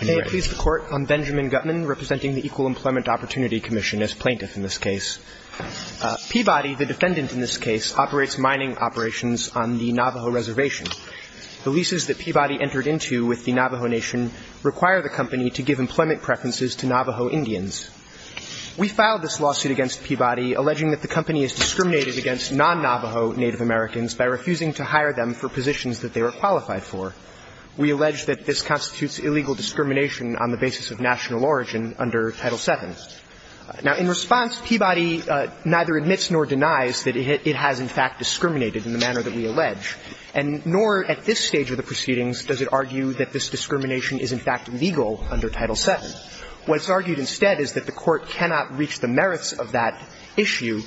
I am Benjamin Gutman, representing the Equal Employment Opportunity Commission as plaintiff in this case. Peabody, the defendant in this case, operates mining operations on the Navajo Reservation. The leases that Peabody entered into with the Navajo Nation require the company to give employment preferences to Navajo Indians. We filed this lawsuit against Peabody alleging that the company is discriminated against non-Navajo Native Americans by refusing to constitutes illegal discrimination on the basis of national origin under Title VII. Now, in response, Peabody neither admits nor denies that it has, in fact, discriminated in the manner that we allege. And nor at this stage of the proceedings does it argue that this discrimination is, in fact, legal under Title VII. What's argued instead is that the court cannot reach the merits of that issue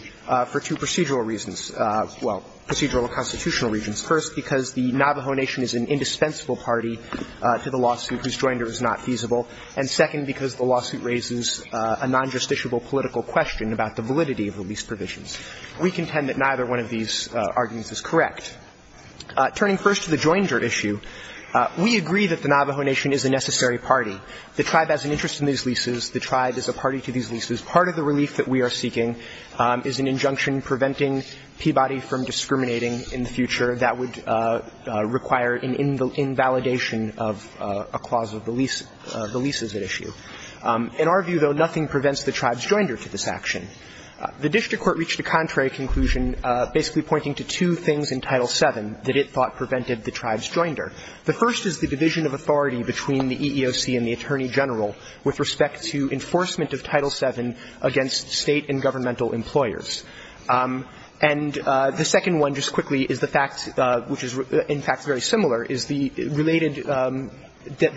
for two procedural reasons. Well, procedural and constitutional reasons. First, because the Navajo Nation is an indispensable party to the lawsuit whose joinder is not feasible. And second, because the lawsuit raises a non-justiciable political question about the validity of the lease provisions. We contend that neither one of these arguments is correct. Turning first to the joinder issue, we agree that the Navajo Nation is a necessary party. The tribe has an interest in these leases. The tribe is a party to these leases. Part of the relief that we are seeking is an injunction preventing Peabody from discriminating in the future. That would require an invalidation of a clause of the lease, the leases at issue. In our view, though, nothing prevents the tribe's joinder to this action. The district court reached a contrary conclusion basically pointing to two things in Title VII that it thought prevented the tribe's joinder. The first is the division of authority between the EEOC and the Attorney General with respect to enforcement of Title VII against State and governmental employers. And the second one, just quickly, is the fact which is, in fact, very similar, is the related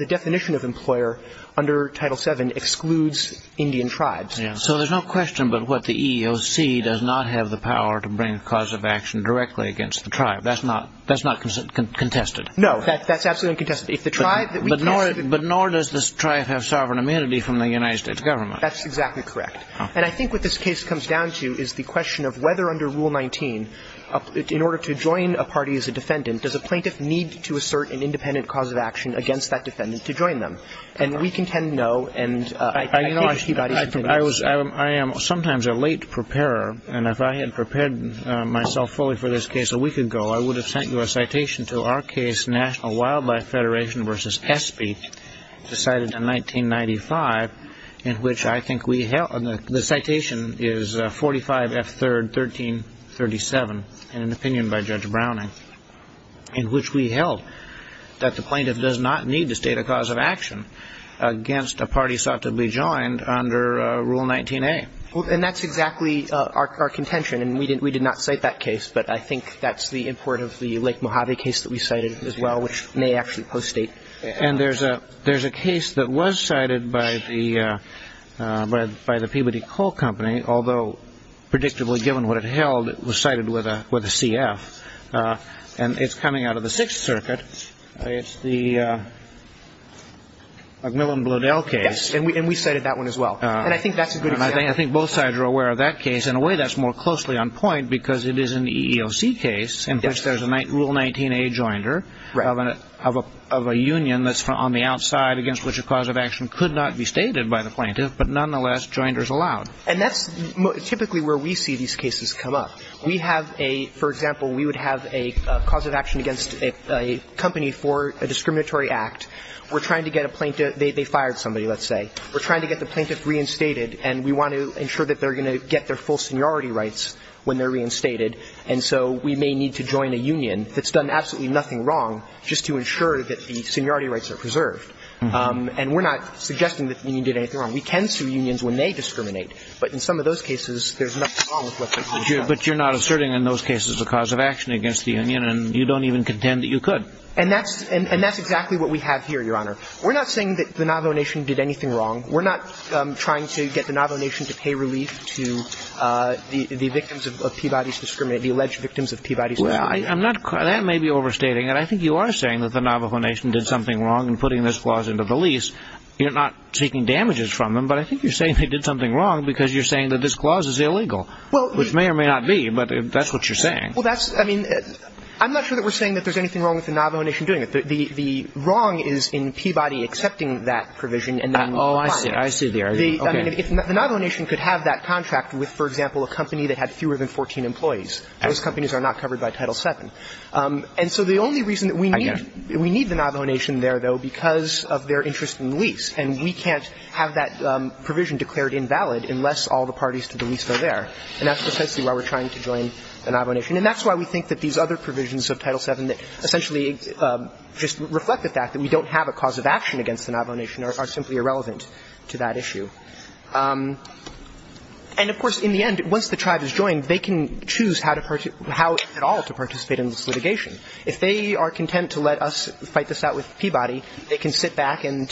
definition of employer under Title VII excludes Indian tribes. So there's no question but what the EEOC does not have the power to bring a cause of action directly against the tribe. That's not contested. No, that's absolutely uncontested. But nor does this tribe have sovereign immunity from the United States government. That's exactly correct. And I think what this case comes down to is the question of whether under Rule 19, in order to join a party as a defendant, does a plaintiff need to assert an independent cause of action against that defendant to join them? And we contend no. I am sometimes a late preparer. And if I had prepared myself fully for this case a week ago, I would have sent you a letter to the National Wildlife Federation versus ESPE, decided in 1995, in which I think we held the citation is 45F3rd 1337 in an opinion by Judge Browning, in which we held that the plaintiff does not need to state a cause of action against a party sought to be joined under Rule 19A. And that's exactly our contention. And we did not cite that case. But I think that's the import of the Lake Mojave case that we cited as well, which may actually post-state. And there's a case that was cited by the Peabody Coal Company, although predictably, given what it held, it was cited with a CF. And it's coming out of the Sixth Circuit. It's the McMillan-Blodell case. Yes. And we cited that one as well. And I think that's a good example. And I think both sides are aware of that case. In a way, that's more closely on point, because it is an EEOC case in which there's a Rule 19A joinder of a union that's on the outside, against which a cause of action could not be stated by the plaintiff. But nonetheless, joinder is allowed. And that's typically where we see these cases come up. We have a – for example, we would have a cause of action against a company for a discriminatory act. We're trying to get a plaintiff – they fired somebody, let's say. We're trying to get the plaintiff reinstated. And we want to ensure that they're going to get their full seniority rights when they're reinstated. And so we may need to join a union that's done absolutely nothing wrong just to ensure that the seniority rights are preserved. And we're not suggesting that the union did anything wrong. We can sue unions when they discriminate. But in some of those cases, there's nothing wrong with what they've done. But you're not asserting in those cases a cause of action against the union, and you don't even contend that you could. And that's – and that's exactly what we have here, Your Honor. We're not saying that the Navajo Nation did anything wrong. We're not trying to get the Navajo Nation to pay relief to the victims of Peabody's discrimination – the alleged victims of Peabody's discrimination. Well, I'm not – that may be overstating it. I think you are saying that the Navajo Nation did something wrong in putting this clause into the lease. You're not seeking damages from them. But I think you're saying they did something wrong because you're saying that this clause is illegal, which may or may not be. But that's what you're saying. Well, that's – I mean, I'm not sure that we're saying that there's anything wrong with the Navajo Nation doing it. The wrong is in Peabody accepting that provision and then – Oh, I see. I see the argument. Okay. I mean, if the Navajo Nation could have that contract with, for example, a company that had fewer than 14 employees, those companies are not covered by Title VII. And so the only reason that we need – I get it. We need the Navajo Nation there, though, because of their interest in the lease. And we can't have that provision declared invalid unless all the parties to the lease are there. And that's essentially why we're trying to join the Navajo Nation. And that's why we think that these other provisions of Title VII that essentially just reflect the fact that we don't have a cause of action against the Navajo Nation are simply irrelevant to that issue. And, of course, in the end, once the tribe is joined, they can choose how to – how at all to participate in this litigation. If they are content to let us fight this out with Peabody, they can sit back and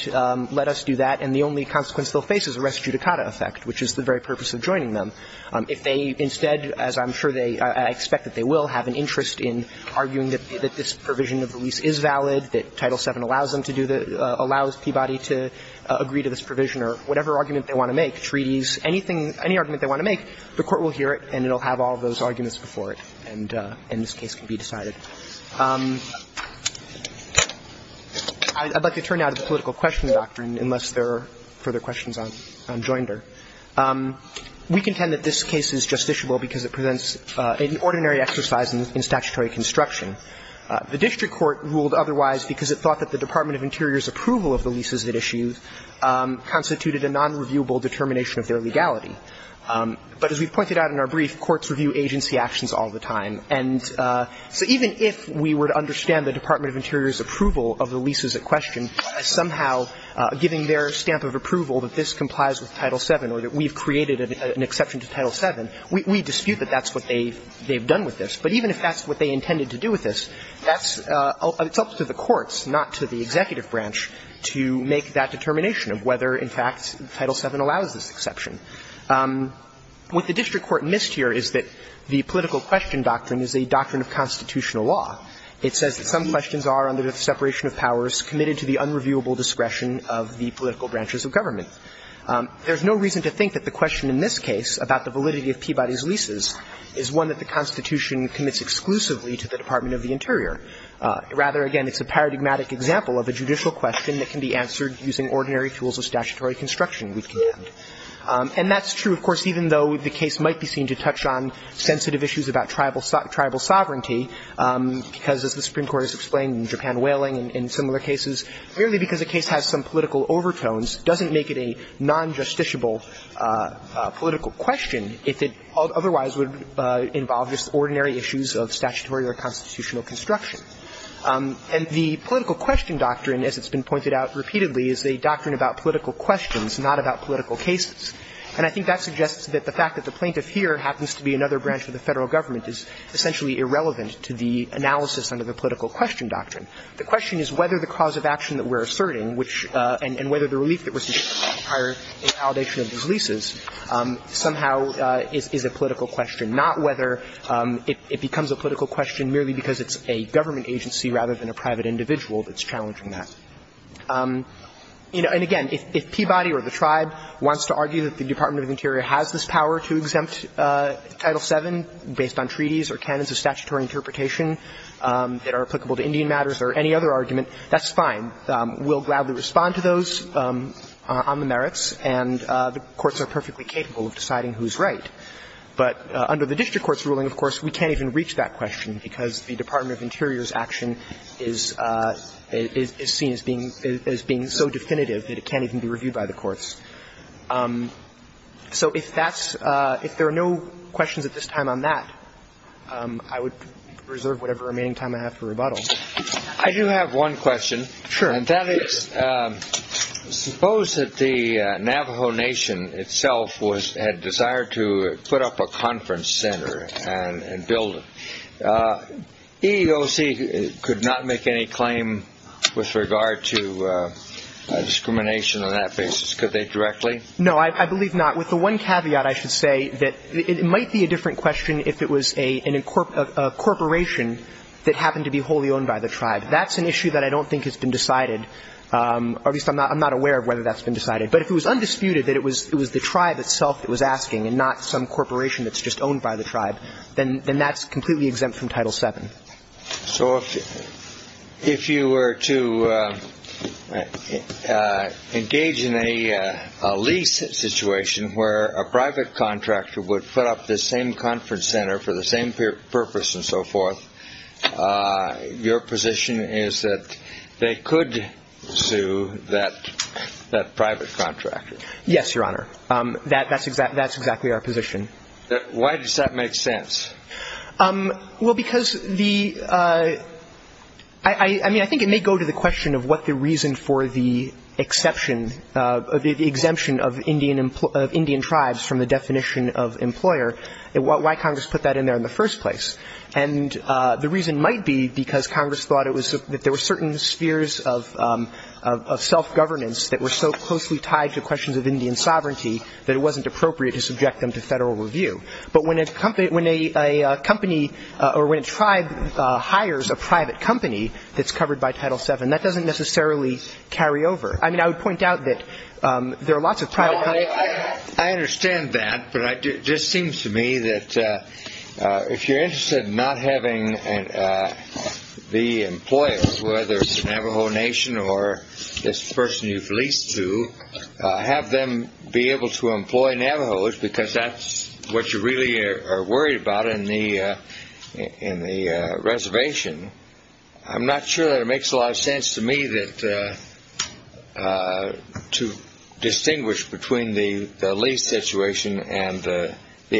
let us do that, and the only consequence they'll face is a res judicata effect, which is the very purpose of joining them. If they instead, as I'm sure they – I expect that they will have an interest in arguing that this provision of the lease is valid, that Title VII allows them to do the – allows Peabody to agree to this provision or whatever argument they want to make, treaties, anything – any argument they want to make, the Court will hear it and it will have all of those arguments before it, and this case can be decided. I'd like to turn now to the political question doctrine, unless there are further questions on Joinder. We contend that this case is justiciable because it presents an ordinary exercise in statutory construction. The district court ruled otherwise because it thought that the Department of Interior's approval of the leases it issued constituted a nonreviewable determination of their legality. But as we pointed out in our brief, courts review agency actions all the time. And so even if we were to understand the Department of Interior's approval of the leases at question as somehow giving their stamp of approval that this complies with Title VII or that we've created an exception to Title VII, we dispute that that's what they've done with this. But even if that's what they intended to do with this, that's – it's up to the courts, not to the executive branch, to make that determination of whether, in fact, Title VII allows this exception. What the district court missed here is that the political question doctrine is a doctrine of constitutional law. It says that some questions are, under the separation of powers, committed to the unreviewable discretion of the political branches of government. There's no reason to think that the question in this case about the validity of Peabody's leases is one that the Constitution commits exclusively to the Department of the Interior. Rather, again, it's a paradigmatic example of a judicial question that can be answered using ordinary tools of statutory construction, we contend. And that's true, of course, even though the case might be seen to touch on sensitive issues about tribal sovereignty, because, as the Supreme Court has explained in Japan whaling and similar cases, merely because a case has some political overtones doesn't make it a non-justiciable political question if it otherwise would involve just ordinary issues of statutory or constitutional construction. And the political question doctrine, as it's been pointed out repeatedly, is a doctrine about political questions, not about political cases. And I think that suggests that the fact that the plaintiff here happens to be another branch of the Federal Government is essentially irrelevant to the analysis under the political question doctrine. The question is whether the cause of action that we're asserting, which – and whether the relief that we're suggesting requires a validation of these leases somehow is a political question, not whether it becomes a political question merely because it's a government agency rather than a private individual that's challenging that. You know, and again, if Peabody or the Tribe wants to argue that the Department of Interior has this power to exempt Title VII based on treaties or canons of statutory interpretation that are applicable to Indian matters or any other argument, that's fine. We'll gladly respond to those on the merits, and the courts are perfectly capable of deciding who's right. But under the district court's ruling, of course, we can't even reach that question because the Department of Interior's action is seen as being so definitive that it can't even be reviewed by the courts. So if that's – if there are no questions at this time on that, I would reserve whatever remaining time I have for rebuttals. I do have one question. Sure. And that is, suppose that the Navajo Nation itself had desired to put up a conference center and build it. EEOC could not make any claim with regard to discrimination on that basis. Could they directly? No, I believe not. With the one caveat I should say that it might be a different question if it was a corporation that happened to be wholly owned by the Tribe. That's an issue that I don't think has been decided, or at least I'm not aware of whether that's been decided. But if it was undisputed that it was the Tribe itself that was asking and not some corporation that was owned by the Tribe, then that's completely exempt from Title VII. So if you were to engage in a lease situation where a private contractor would put up this same conference center for the same purpose and so forth, your position is that they could sue that private contractor? Yes, Your Honor. That's exactly our position. Why does that make sense? Well, because the ñ I mean, I think it may go to the question of what the reason for the exception, the exemption of Indian Tribes from the definition of employer, why Congress put that in there in the first place. And the reason might be because Congress thought it was ñ that there were certain spheres of self-governance that were so closely tied to questions of Indian sovereignty that it wasn't appropriate to subject them to federal review. But when a company ñ when a company ñ or when a Tribe hires a private company that's covered by Title VII, that doesn't necessarily carry over. I mean, I would point out that there are lots of private companies ñ I understand that, but it just seems to me that if you're interested in not having the Navajos because that's what you really are worried about in the reservation, I'm not sure that it makes a lot of sense to me that ñ to distinguish between the lease situation and the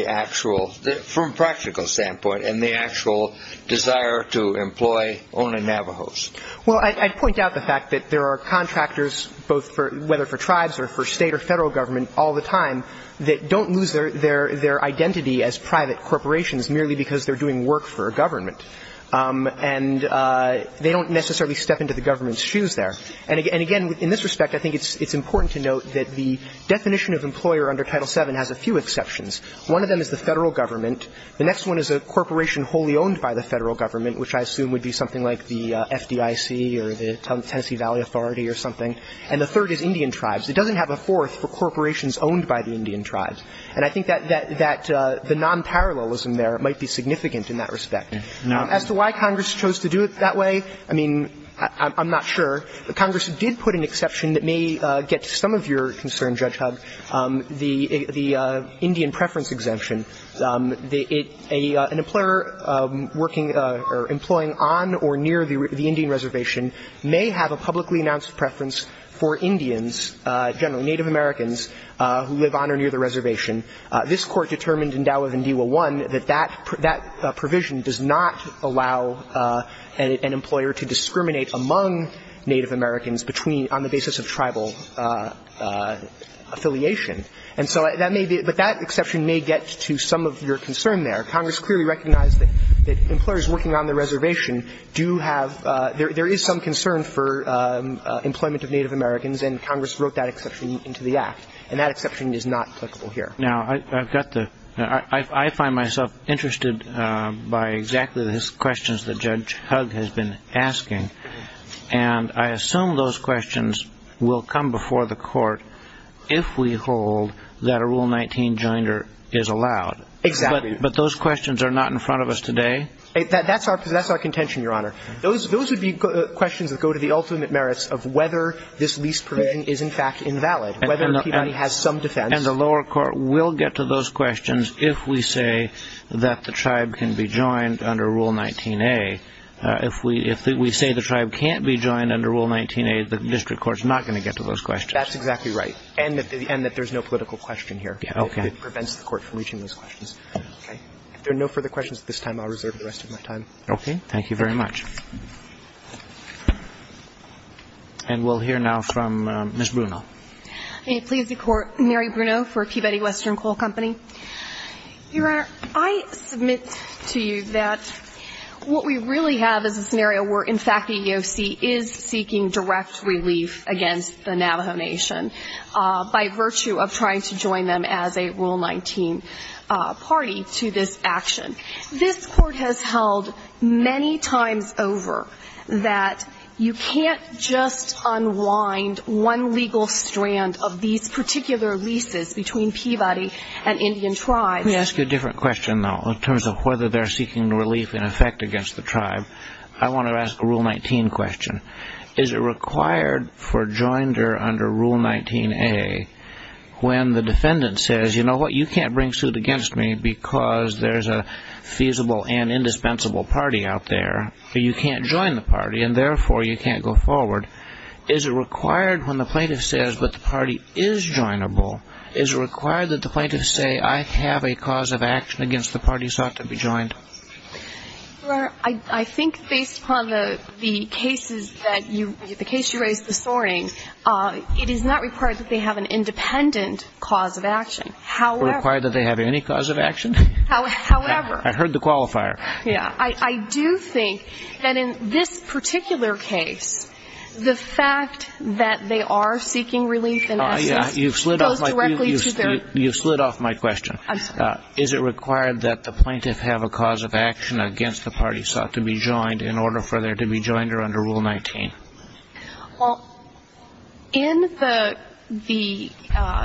actual ñ from a practical standpoint, and the actual desire to employ only Navajos. Well, I'd point out the fact that there are contractors both for ñ whether for Tribes or for Navajos all the time that don't lose their identity as private corporations merely because they're doing work for a government. And they don't necessarily step into the government's shoes there. And again, in this respect, I think it's important to note that the definition of employer under Title VII has a few exceptions. One of them is the federal government. The next one is a corporation wholly owned by the federal government, which I assume would be something like the FDIC or the Tennessee Valley Authority or something. And the third is Indian Tribes. It doesn't have a fourth for corporations owned by the Indian Tribes. And I think that the nonparallelism there might be significant in that respect. Now, as to why Congress chose to do it that way, I mean, I'm not sure. Congress did put an exception that may get to some of your concern, Judge Hubb, the Indian preference exemption. An employer working or employing on or near the Indian reservation may have a publicly announced preference for Indians, generally Native Americans, who live on or near the reservation. This Court determined in Dow of Indiwa I that that provision does not allow an employer to discriminate among Native Americans between the basis of tribal affiliation. And so that may be – but that exception may get to some of your concern there. Congress clearly recognized that employers working on the reservation do have – there is employment of Native Americans. And Congress wrote that exception into the Act. And that exception is not applicable here. Now, I've got the – I find myself interested by exactly the questions that Judge Hubb has been asking. And I assume those questions will come before the Court if we hold that a Rule 19 joinder is allowed. Exactly. But those questions are not in front of us today? That's our contention, Your Honor. Those would be questions that go to the ultimate merits of whether this lease provision is, in fact, invalid, whether Peabody has some defense. And the lower court will get to those questions if we say that the tribe can be joined under Rule 19a. If we say the tribe can't be joined under Rule 19a, the district court is not going to get to those questions. That's exactly right. And that there's no political question here. Okay. It prevents the Court from reaching those questions. Okay. If there are no further questions at this time, I'll reserve the rest of my time. Okay. Thank you very much. And we'll hear now from Ms. Bruno. May it please the Court. Mary Bruno for Peabody Western Coal Company. Your Honor, I submit to you that what we really have is a scenario where, in fact, the EEOC is seeking direct relief against the Navajo Nation by virtue of trying to join them as a Rule 19 party to this action. This Court has held many times over that you can't just unwind one legal strand of these particular leases between Peabody and Indian tribes. Let me ask you a different question, though, in terms of whether they're seeking relief in effect against the tribe. I want to ask a Rule 19 question. Is it required for joinder under Rule 19a when the defendant says, you know what, you can't bring suit against me because there's a feasible and indispensable party out there, you can't join the party, and therefore you can't go forward, is it required when the plaintiff says that the party is joinable, is it required that the plaintiff say I have a cause of action against the party sought to be joined? Your Honor, I think based upon the cases that you raised, the case you raised, the soaring, it is not required that they have an independent cause of action. It's not required that they have any cause of action? However... I heard the qualifier. Yeah. I do think that in this particular case, the fact that they are seeking relief in essence... Oh, yeah. ...goes directly to their... You slid off my question. I'm sorry. Is it required that the plaintiff have a cause of action against the party sought to be joined in order for there to be joinder under Rule 19? Well, in the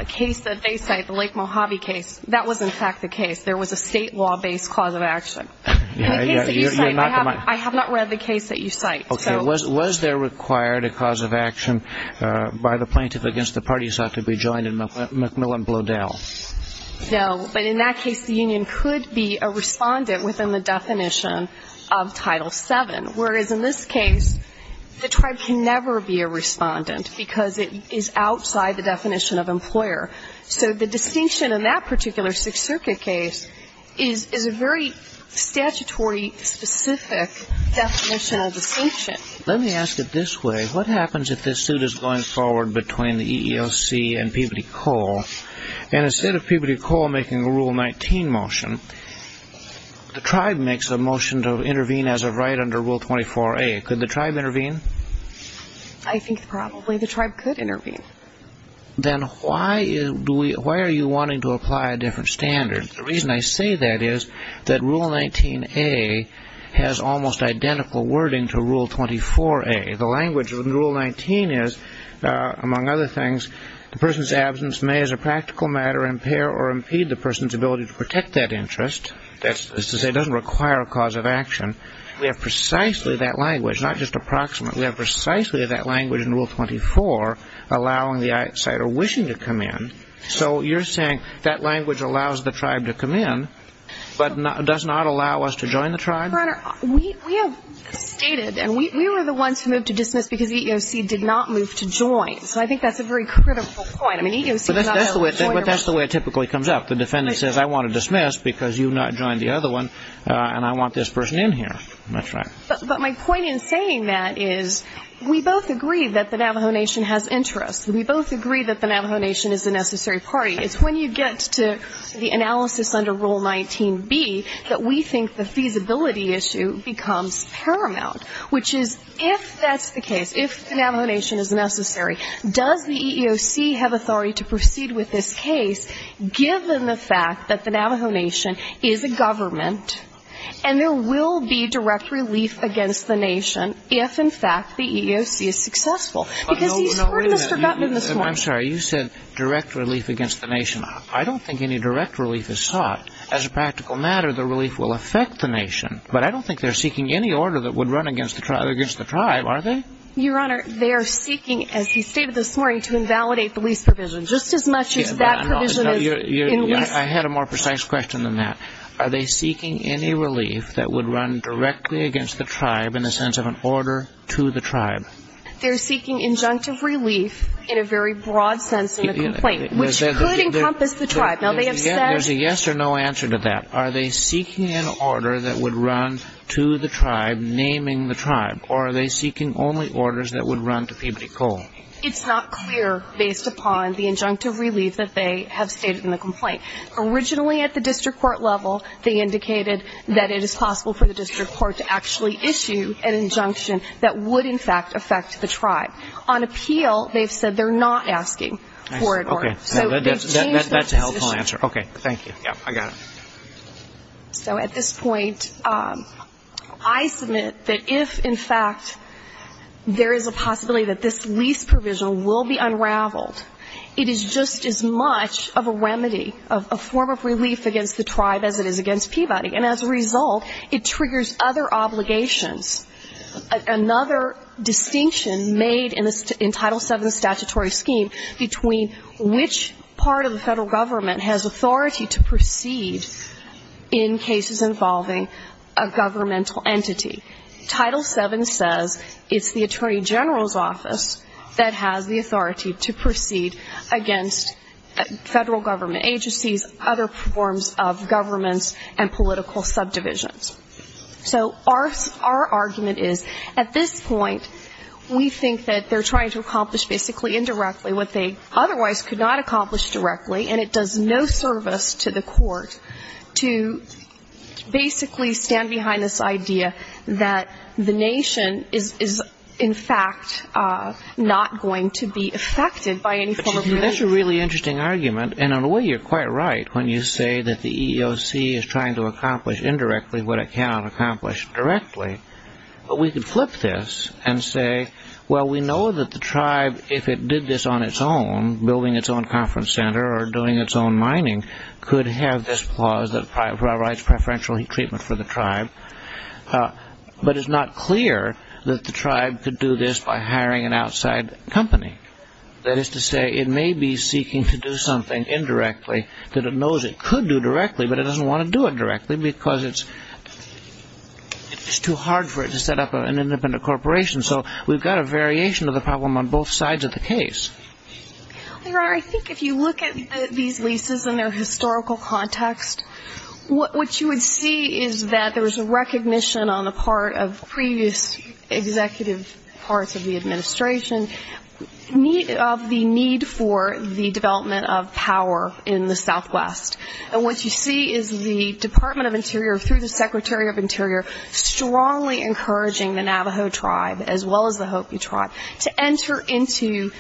case that they cite, the Lake Mojave case, that was in fact the case. There was a state law-based cause of action. In the case that you cite, I have not read the case that you cite. Okay. Was there required a cause of action by the plaintiff against the party sought to be joined in McMillan-Bloedel? No. But in that case, the union could be a respondent within the definition of Title VII, whereas in this case, the tribe can never be a respondent because it is outside the definition of employer. So the distinction in that particular Sixth Circuit case is a very statutory-specific definition of distinction. Let me ask it this way. What happens if this suit is going forward between the EEOC and Peabody Coal, and instead of Peabody Coal making a Rule 19 motion, the tribe makes a motion to intervene as of right under Rule 24a. Could the tribe intervene? I think probably the tribe could intervene. Then why are you wanting to apply a different standard? The reason I say that is that Rule 19a has almost identical wording to Rule 24a. The language in Rule 19 is, among other things, the person's absence may as a practical matter impair or impede the person's ability to protect that interest. That is to say it doesn't require a cause of action. We have precisely that language, not just approximate. We have precisely that language in Rule 24 allowing the outsider wishing to come in. So you're saying that language allows the tribe to come in but does not allow us to join the tribe? Your Honor, we have stated, and we were the ones who moved to dismiss because the EEOC did not move to join. So I think that's a very critical point. But that's the way it typically comes up. The defendant says, I want to dismiss because you've not joined the other one, and I want this person in here. That's right. But my point in saying that is we both agree that the Navajo Nation has interest. We both agree that the Navajo Nation is a necessary party. It's when you get to the analysis under Rule 19b that we think the feasibility issue becomes paramount, which is if that's the case, if the Navajo Nation is necessary, does the EEOC have authority to proceed with this case given the fact that the Navajo Nation is a government and there will be direct relief against the nation if, in fact, the EEOC is successful? Because he's sort of forgotten this point. I'm sorry. You said direct relief against the nation. I don't think any direct relief is sought. As a practical matter, the relief will affect the nation. But I don't think they're seeking any order that would run against the tribe, are they? Your Honor, they are seeking, as he stated this morning, to invalidate the lease provision, just as much as that provision is in lease. I had a more precise question than that. Are they seeking any relief that would run directly against the tribe in the sense of an order to the tribe? They're seeking injunctive relief in a very broad sense in the complaint, which could encompass the tribe. Now, they have said that. There's a yes or no answer to that. Are they seeking an order that would run to the tribe, naming the tribe, or are they seeking only orders that would run to Peabody Coal? It's not clear, based upon the injunctive relief that they have stated in the complaint. Originally, at the district court level, they indicated that it is possible for the district court to actually issue an injunction that would, in fact, affect the tribe. On appeal, they've said they're not asking for an order. That's a helpful answer. Okay, thank you. Yeah, I got it. So at this point, I submit that if, in fact, there is a possibility that this lease provision will be unraveled, it is just as much of a remedy, a form of relief against the tribe as it is against Peabody. And as a result, it triggers other obligations. Another distinction made in Title VII statutory scheme between which part of the Federal Government has authority to proceed in cases involving a governmental entity. Title VII says it's the Attorney General's Office that has the authority to proceed against Federal Government agencies, other forms of governments, and political subdivisions. So our argument is, at this point, we think that they're trying to accomplish basically indirectly what they otherwise could not accomplish directly, and it does no service to the court to basically stand behind this idea that the nation is, in fact, not going to be affected by any form of relief. That's a really interesting argument. And in a way, you're quite right when you say that the EEOC is trying to accomplish indirectly what it cannot accomplish directly. But we could flip this and say, well, we know that the tribe, if it did this on its own, building its own conference center or doing its own mining, could have this clause that provides preferential treatment for the tribe. But it's not clear that the tribe could do this by hiring an outside company. That is to say, it may be seeking to do something indirectly that it knows it could do directly, but it doesn't want to do it directly because it's too hard for it to set up an independent corporation. So we've got a variation of the problem on both sides of the case. I think if you look at these leases and their historical context, what you would see is that there was a recognition on the part of previous executive parts of the administration of the need for the development of power in the southwest. And what you see is the Department of Interior, through the Secretary of Interior, strongly encouraging the Navajo tribe, as well as the Hopi tribe, to enter into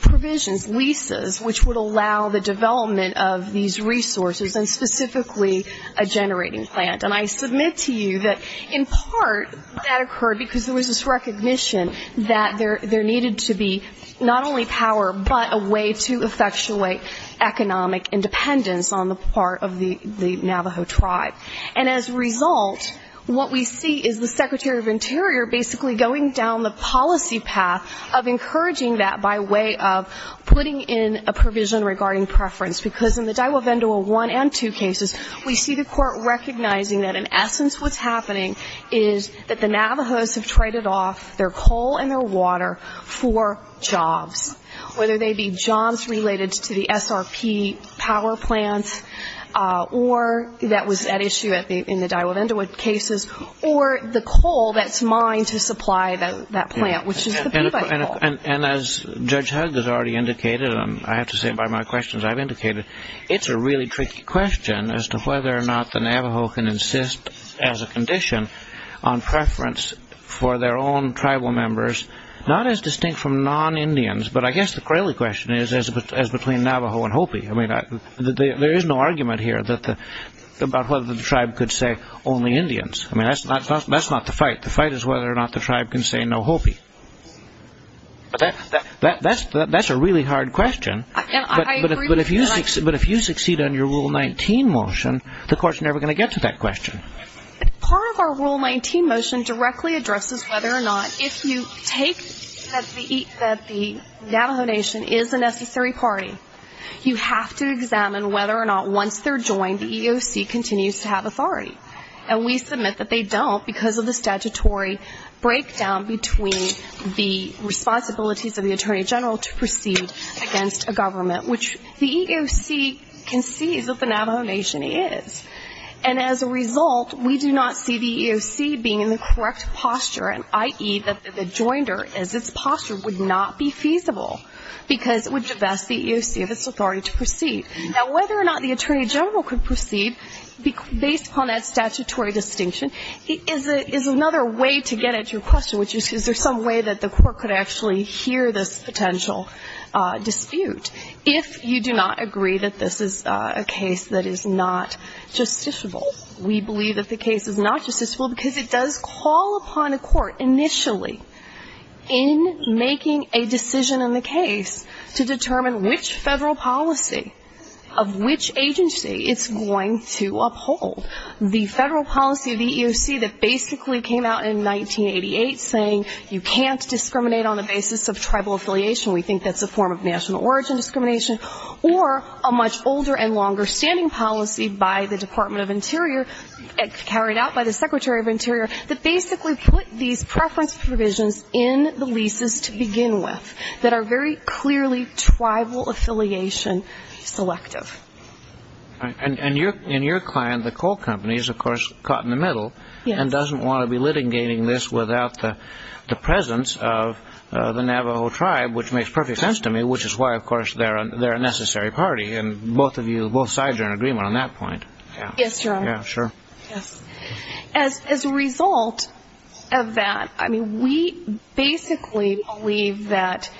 provisions, leases, which would allow the development of these resources, and specifically a generating plant. And I submit to you that in part that occurred because there was this recognition that there needed to be not only power, but a way to effectuate economic independence on the part of the Navajo tribe. And as a result, what we see is the Secretary of Interior basically going down the policy path of encouraging that by way of putting in a provision regarding preference. Because in the Diwa Vendola I and II cases, we see the court recognizing that, in essence, what's happening is that the Navajos have traded off their coal and their water for jobs, whether they be jobs related to the SRP power plants, or that was at issue in the Diwa Vendola cases, or the coal that's mined to supply that plant, which is the Peabody coal. And as Judge Hugg has already indicated, and I have to say by my questions I've indicated, it's a really tricky question as to whether or not the Navajo can insist, as a condition, on preference for their own tribal members, not as distinct from non-Indians, but I guess the cruelly question is as between Navajo and Hopi. I mean, there is no argument here about whether the tribe could say only Indians. I mean, that's not the fight. The fight is whether or not the tribe can say no Hopi. But that's a really hard question. But if you succeed on your Rule 19 motion, the court's never going to get to that question. Part of our Rule 19 motion directly addresses whether or not, if you take that the Navajo Nation is a necessary party, you have to examine whether or not once they're joined, the EEOC continues to have authority. And we submit that they don't because of the statutory breakdown between the responsibilities of the Attorney General to proceed against a government, which the EEOC concedes that the Navajo Nation is. And as a result, we do not see the EEOC being in the correct posture, i.e., that the joinder as its posture would not be feasible because it would divest the EEOC of its authority to proceed. Now, whether or not the Attorney General could proceed, based upon that statutory distinction, is another way to get at your question, which is is there some way that the court could actually hear this potential dispute. If you do not agree that this is a case that is not justiciable. We believe that the case is not justiciable because it does call upon a court initially in making a decision in the case to determine which federal policy of which agency it's going to uphold. The federal policy of the EEOC that basically came out in 1988 saying you can't discriminate on the basis of tribal affiliation. We think that's a form of national origin discrimination. Or a much older and longer standing policy by the Department of Interior, carried out by the Secretary of Interior, that basically put these preference provisions in the leases to begin with that are very clearly tribal affiliation selective. And your client, the coal company, is, of course, caught in the middle and doesn't want to be litigating this without the presence of the Navajo Tribe, which makes perfect sense to me, which is why, of course, they're a necessary party. And both of you, both sides are in agreement on that point. Yes, Jerome. Yeah, sure. Yes. As a result of that, I mean, we basically believe that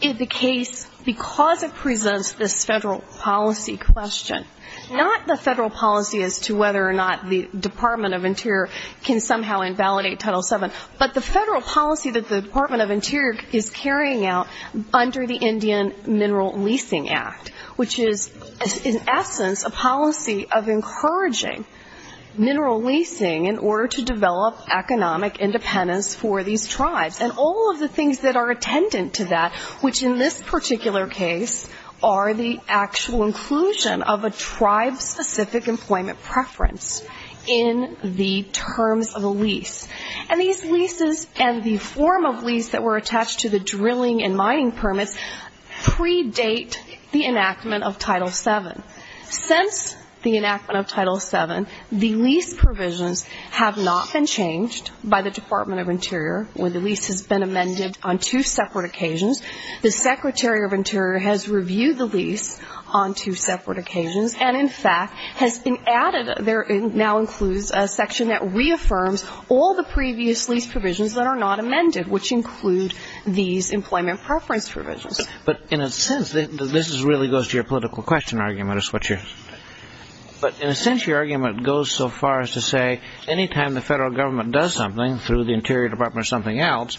in the case, because it presents this federal policy question, not the federal policy as to whether or not the Department of Interior can somehow invalidate Title VII, but the federal policy that the Department of Interior is carrying out under the Indian Mineral Leasing Act, which is, in essence, a policy of encouraging mineral leasing in order to develop economic independence for these tribes. And all of the things that are attendant to that, which in this particular case, are the actual inclusion of a tribe-specific employment preference in the terms of a lease. And these leases and the form of lease that were attached to the drilling and mining permits predate the enactment of Title VII. Since the enactment of Title VII, the lease provisions have not been changed by the Department of Interior where the lease has been amended on two separate occasions. The Secretary of Interior has reviewed the lease on two separate occasions There now includes a section that reaffirms all the previous lease provisions that are not amended, which include these employment preference provisions. But in a sense, this really goes to your political question argument. But in a sense, your argument goes so far as to say any time the federal government does something through the Interior Department or something else,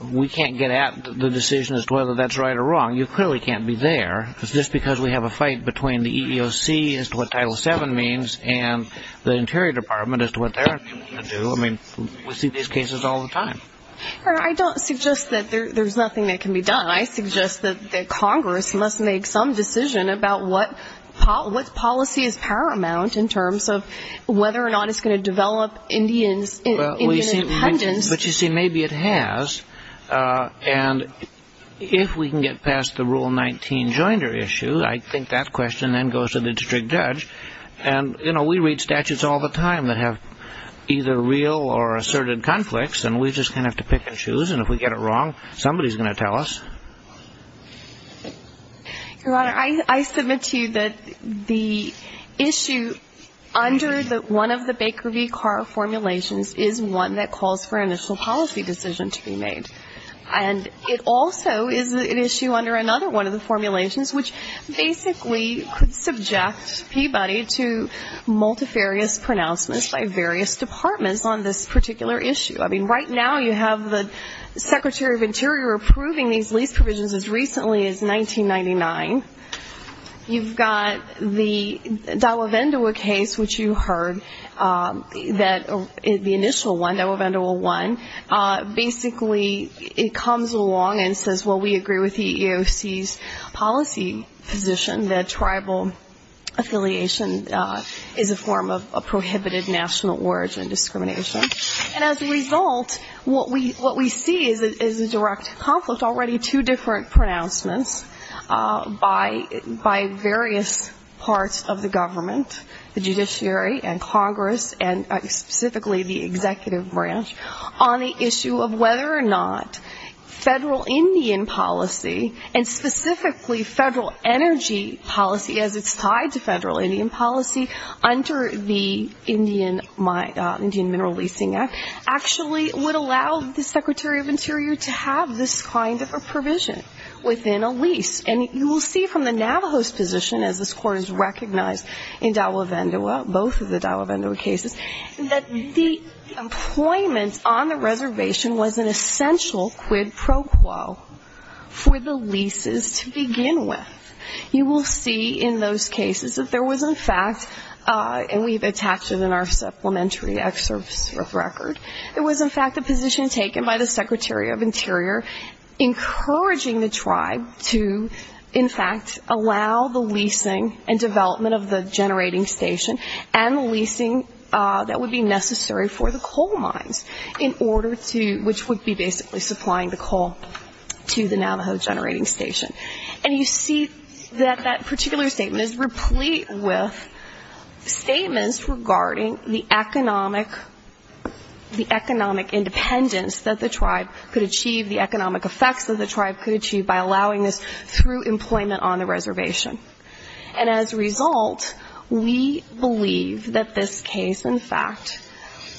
we can't get at the decision as to whether that's right or wrong. You clearly can't be there. Is this because we have a fight between the EEOC as to what Title VII means and the Interior Department as to what they're going to do? I mean, we see these cases all the time. I don't suggest that there's nothing that can be done. I suggest that Congress must make some decision about what policy is paramount in terms of whether or not it's going to develop Indian independence. But you see, maybe it has. And if we can get past the Rule 19 joinder issue, I think that question then goes to the district judge. And, you know, we read statutes all the time that have either real or asserted conflicts, and we just kind of have to pick and choose. And if we get it wrong, somebody's going to tell us. Your Honor, I submit to you that the issue under one of the Baker v. Carr formulations is one that calls for an initial policy decision to be made. And it also is an issue under another one of the formulations, which basically could subject Peabody to multifarious pronouncements by various departments on this particular issue. I mean, right now you have the Secretary of Interior approving these lease provisions as recently as 1999. You've got the Dawa Vandewa case, which you heard, the initial one, Dawa Vandewa 1. Basically, it comes along and says, well, we agree with the EEOC's policy position that tribal affiliation is a form of prohibited national origin discrimination. And as a result, what we see is a direct conflict, already two different pronouncements by various parts of the government, the judiciary and Congress and specifically the executive branch, on the issue of whether or not federal Indian policy, and specifically federal energy policy as it's tied to federal Indian policy under the Indian Mineral Leasing Act, actually would allow the Secretary of Interior to have this kind of a provision within a lease. And you will see from the Navajos position, as this Court has recognized in Dawa Vandewa, both of the Dawa Vandewa cases, that the employment on the reservation was an essential quid pro quo for the leases to begin with. You will see in those cases that there was, in fact, and we've attached it in our supplementary excerpts of record, there was, in fact, a position taken by the Secretary of Interior encouraging the tribe to, in fact, allow the leasing and development of the generating station and the leasing that would be necessary for the coal mines in order to, which would be basically supplying the coal to the Navajo generating station. And you see that that particular statement is replete with statements regarding the economic independence that the tribe could achieve, the economic effects that the tribe could achieve by allowing this through employment on the reservation. And as a result, we believe that this case, in fact,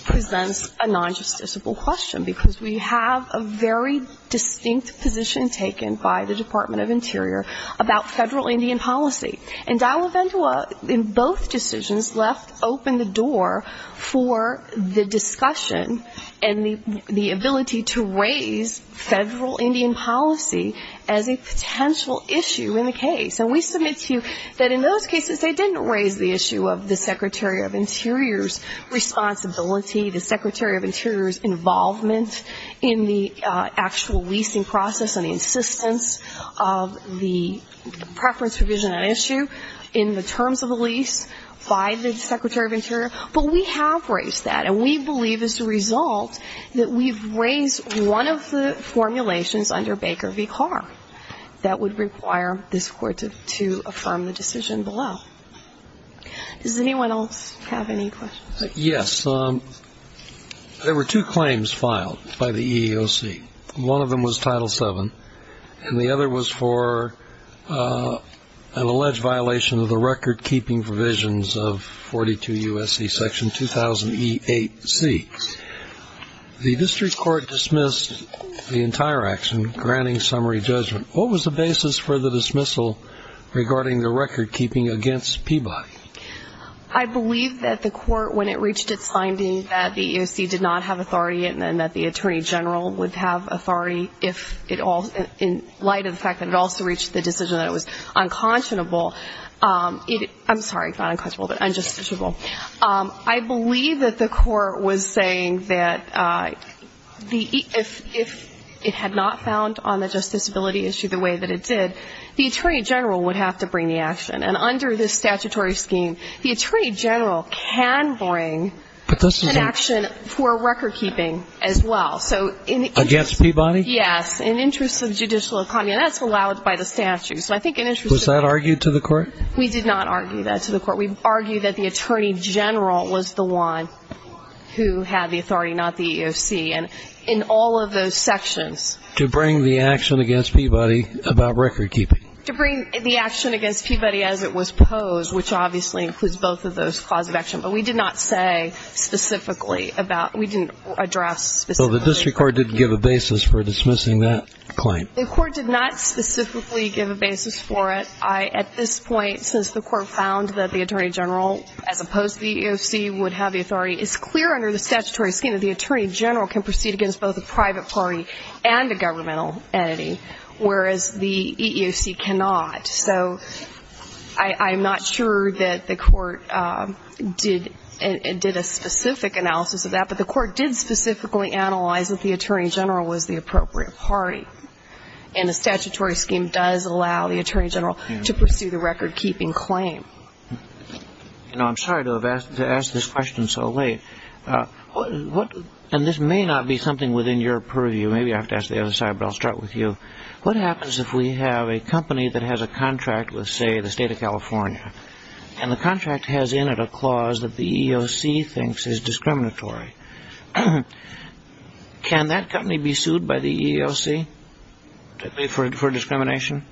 presents a non-justiciable question, because we have a very distinct position taken by the Department of Interior about federal Indian policy. And Dawa Vandewa in both decisions left open the door for the discussion and the ability to raise federal Indian policy as a potential issue in the case. And we submit to you that in those cases they didn't raise the issue of the Secretary of Interior's responsibility, the Secretary of Interior's involvement in the actual leasing process and the insistence of the preference provision and issue in the terms of the lease by the Secretary of Interior. But we have raised that, and we believe as a result that we've raised one of the formulations under Baker v. Carr that would require this Court to affirm the decision below. Does anyone else have any questions? Yes. There were two claims filed by the EEOC. One of them was Title VII, and the other was for an alleged violation of the record-keeping provisions of 42 U.S.C. Section 2000E8C. The district court dismissed the entire action, granting summary judgment. What was the basis for the dismissal regarding the record-keeping against Peabody? I believe that the Court, when it reached its finding that the EEOC did not have authority and that the Attorney General would have authority if it all ñ in light of the fact that it also reached the decision that it was unconscionable ñ I'm sorry, not unconscionable, but unjusticiable. I believe that the Court was saying that if it had not found on the justiceability issue the way that it did, the Attorney General would have to bring the action. And under this statutory scheme, the Attorney General can bring an action for record-keeping as well. Against Peabody? Yes, in the interest of judicial economy. And that's allowed by the statute. Was that argued to the Court? We did not argue that to the Court. We argued that the Attorney General was the one who had the authority, not the EEOC. And in all of those sections ñ To bring the action against Peabody about record-keeping. To bring the action against Peabody as it was posed, which obviously includes both of those clauses of action. But we did not say specifically about ñ we didn't address specifically. So the district court didn't give a basis for dismissing that claim? The court did not specifically give a basis for it. At this point, since the Court found that the Attorney General, as opposed to the EEOC, would have the authority, it's clear under the statutory scheme that the Attorney General can proceed against both a private party and a governmental entity, whereas the EEOC cannot. So I'm not sure that the Court did a specific analysis of that. But the Court did specifically analyze that the Attorney General was the appropriate party. And the statutory scheme does allow the Attorney General to pursue the record-keeping claim. You know, I'm sorry to have asked this question so late. And this may not be something within your purview. Maybe I have to ask the other side, but I'll start with you. What happens if we have a company that has a contract with, say, the state of California, and the contract has in it a clause that the EEOC thinks is discriminatory? Can that company be sued by the EEOC for discrimination?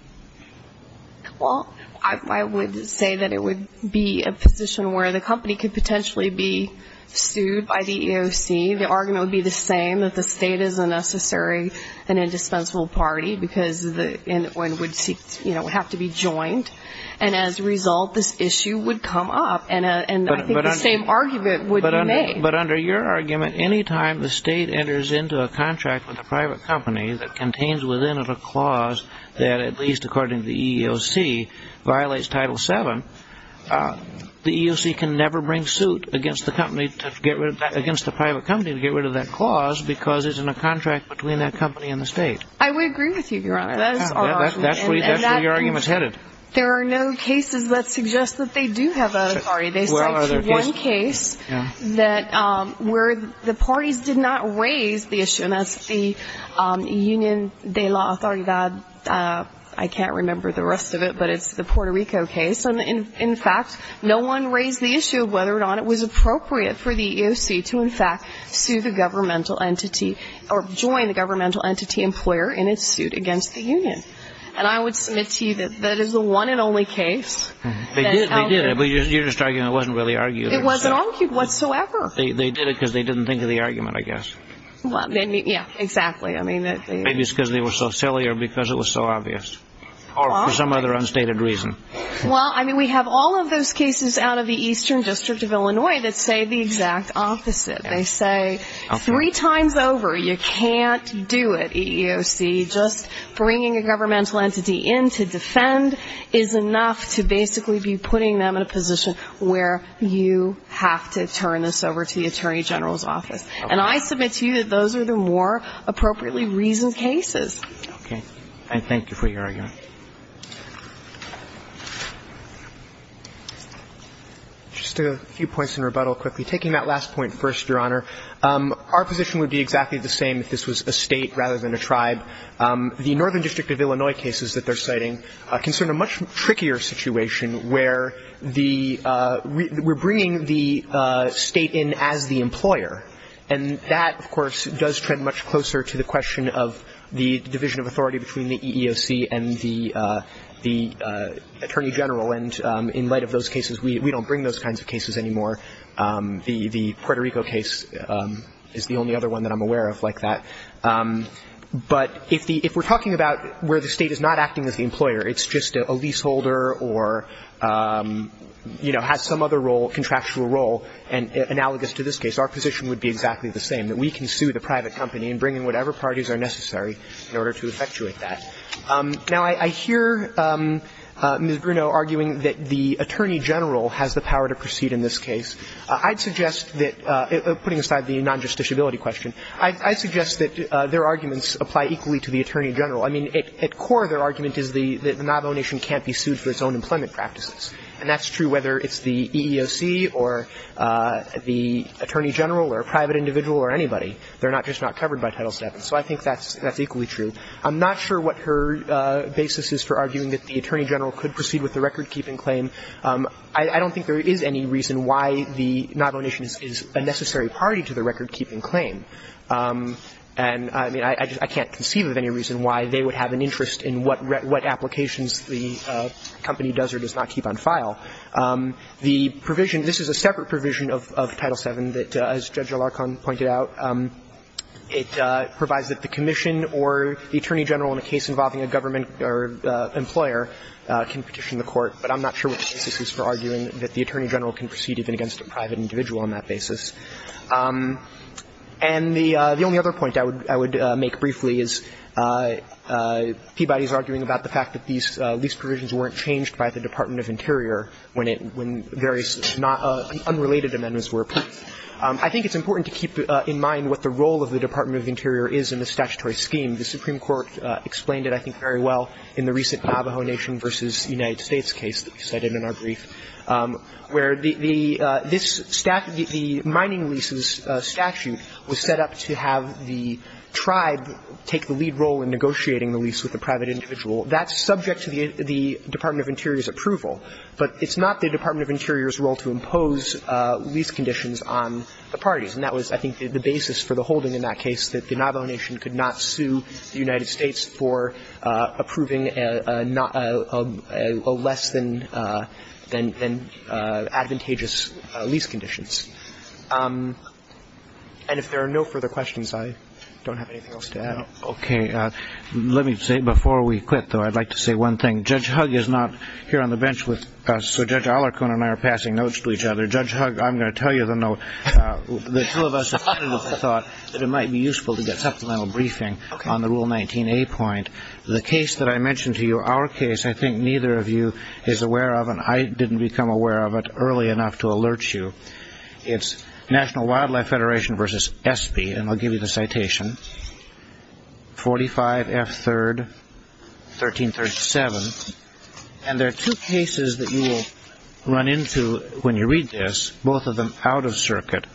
Well, I would say that it would be a position where the company could potentially be sued by the EEOC. The argument would be the same, that the state is a necessary and indispensable party, because one would have to be joined. And as a result, this issue would come up. And I think the same argument would be made. But under your argument, any time the state enters into a contract with a private company that contains within it a clause that, at least according to the EEOC, violates Title VII, the EEOC can never bring suit against the private company to get rid of that clause because it's in a contract between that company and the state. I would agree with you, Your Honor. That's where your argument is headed. There are no cases that suggest that they do have authority. They cite one case where the parties did not raise the issue, and that's the Union de la Autoridad. I can't remember the rest of it, but it's the Puerto Rico case. In fact, no one raised the issue of whether or not it was appropriate for the EEOC to, in fact, sue the governmental entity or join the governmental entity employer in its suit against the Union. And I would submit to you that that is the one and only case. They did. They did. But your argument wasn't really argued. It wasn't argued whatsoever. They did it because they didn't think of the argument, I guess. Yeah, exactly. Maybe it's because they were so silly or because it was so obvious or for some other unstated reason. Well, I mean, we have all of those cases out of the Eastern District of Illinois that say the exact opposite. They say three times over, you can't do it, EEOC. Just bringing a governmental entity in to defend is enough to basically be putting them in a position where you have to turn this over to the Attorney General's office. And I submit to you that those are the more appropriately reasoned cases. Okay. And thank you for your argument. Just a few points in rebuttal quickly. Taking that last point first, Your Honor, our position would be exactly the same if this was a State rather than a tribe. The Northern District of Illinois cases that they're citing concern a much trickier situation where we're bringing the State in as the employer. And that, of course, does trend much closer to the question of the division of authority between the EEOC and the Attorney General. And in light of those cases, we don't bring those kinds of cases anymore. The Puerto Rico case is the only other one that I'm aware of like that. But if we're talking about where the State is not acting as the employer, it's just a leaseholder or, you know, has some other role, contractual role, and analogous to this case, our position would be exactly the same, that we can sue the private company and bring in whatever parties are necessary in order to effectuate that. Now, I hear Ms. Bruno arguing that the Attorney General has the power to proceed in this case. I'd suggest that, putting aside the non-justiciability question, I'd suggest that their arguments apply equally to the Attorney General. I mean, at core, their argument is that the Navajo Nation can't be sued for its own employment practices. And that's true whether it's the EEOC or the Attorney General or a private individual or anybody. They're not just not covered by Title VII. So I think that's equally true. I'm not sure what her basis is for arguing that the Attorney General could proceed with the recordkeeping claim. I don't think there is any reason why the Navajo Nation is a necessary party to the recordkeeping claim. And, I mean, I can't conceive of any reason why they would have an interest in what applications the company does or does not keep on file. The provision, this is a separate provision of Title VII that, as Judge Alarcon pointed out, it provides that the commission or the Attorney General in a case involving a government or employer can petition the court. But I'm not sure what the basis is for arguing that the Attorney General can proceed even against a private individual on that basis. And the only other point I would make briefly is Peabody is arguing about the fact that these lease provisions weren't changed by the Department of Interior when various unrelated amendments were applied. I think it's important to keep in mind what the role of the Department of Interior is in the statutory scheme. The Supreme Court explained it, I think, very well in the recent Navajo Nation v. United States case that we cited in our brief, where the mining leases statute was set up to have the tribe take the lead role in negotiating the lease with the private individual. That's subject to the Department of Interior's approval. But it's not the Department of Interior's role to impose lease conditions on the parties. And that was, I think, the basis for the holding in that case, that the Navajo Nation could not sue the United States for approving a less than advantageous lease conditions. And if there are no further questions, I don't have anything else to add. Okay. Let me say, before we quit, though, I'd like to say one thing. Judge Hugg is not here on the bench with us, so Judge Alarcon and I are passing notes to each other. Judge Hugg, I'm going to tell you the note. The two of us thought that it might be useful to get supplemental briefing on the Rule 19a point. The case that I mentioned to you, our case, I think neither of you is aware of, and I didn't become aware of it early enough to alert you. It's National Wildlife Federation v. ESPE, and I'll give you the citation. 45 F. 3rd, 1337. And there are two cases that you will run into when you read this, both of them out of circuit,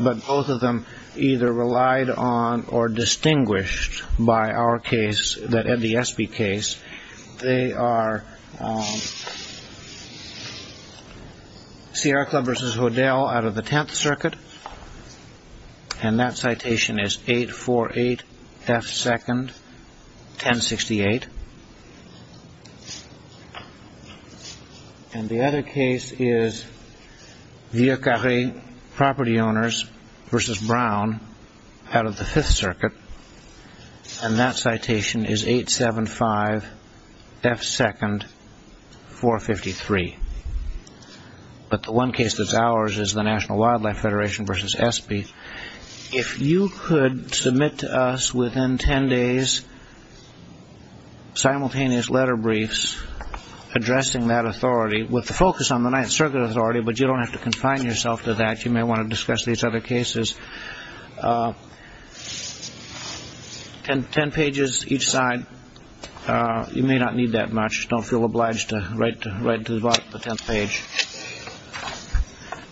but both of them either relied on or distinguished by our case, the ESPE case. They are Sierra Club v. Hodel out of the 10th Circuit, and that citation is 848 F. 2nd, 1068. And the other case is Vieux Carre Property Owners v. Brown out of the 5th Circuit, and that citation is 875 F. 2nd, 453. But the one case that's ours is the National Wildlife Federation v. ESPE. If you could submit to us within 10 days simultaneous letter briefs addressing that authority with the focus on the 9th Circuit authority, but you don't have to confine yourself to that. You may want to discuss these other cases. Ten pages each side. You may not need that much. Don't feel obliged to write to the bottom of the tenth page.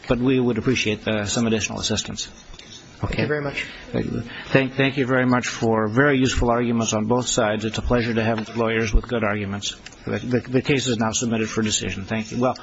But we would appreciate some additional assistance. Thank you very much. Thank you very much for very useful arguments on both sides. It's a pleasure to have lawyers with good arguments. The case is now submitted for decision. Thank you.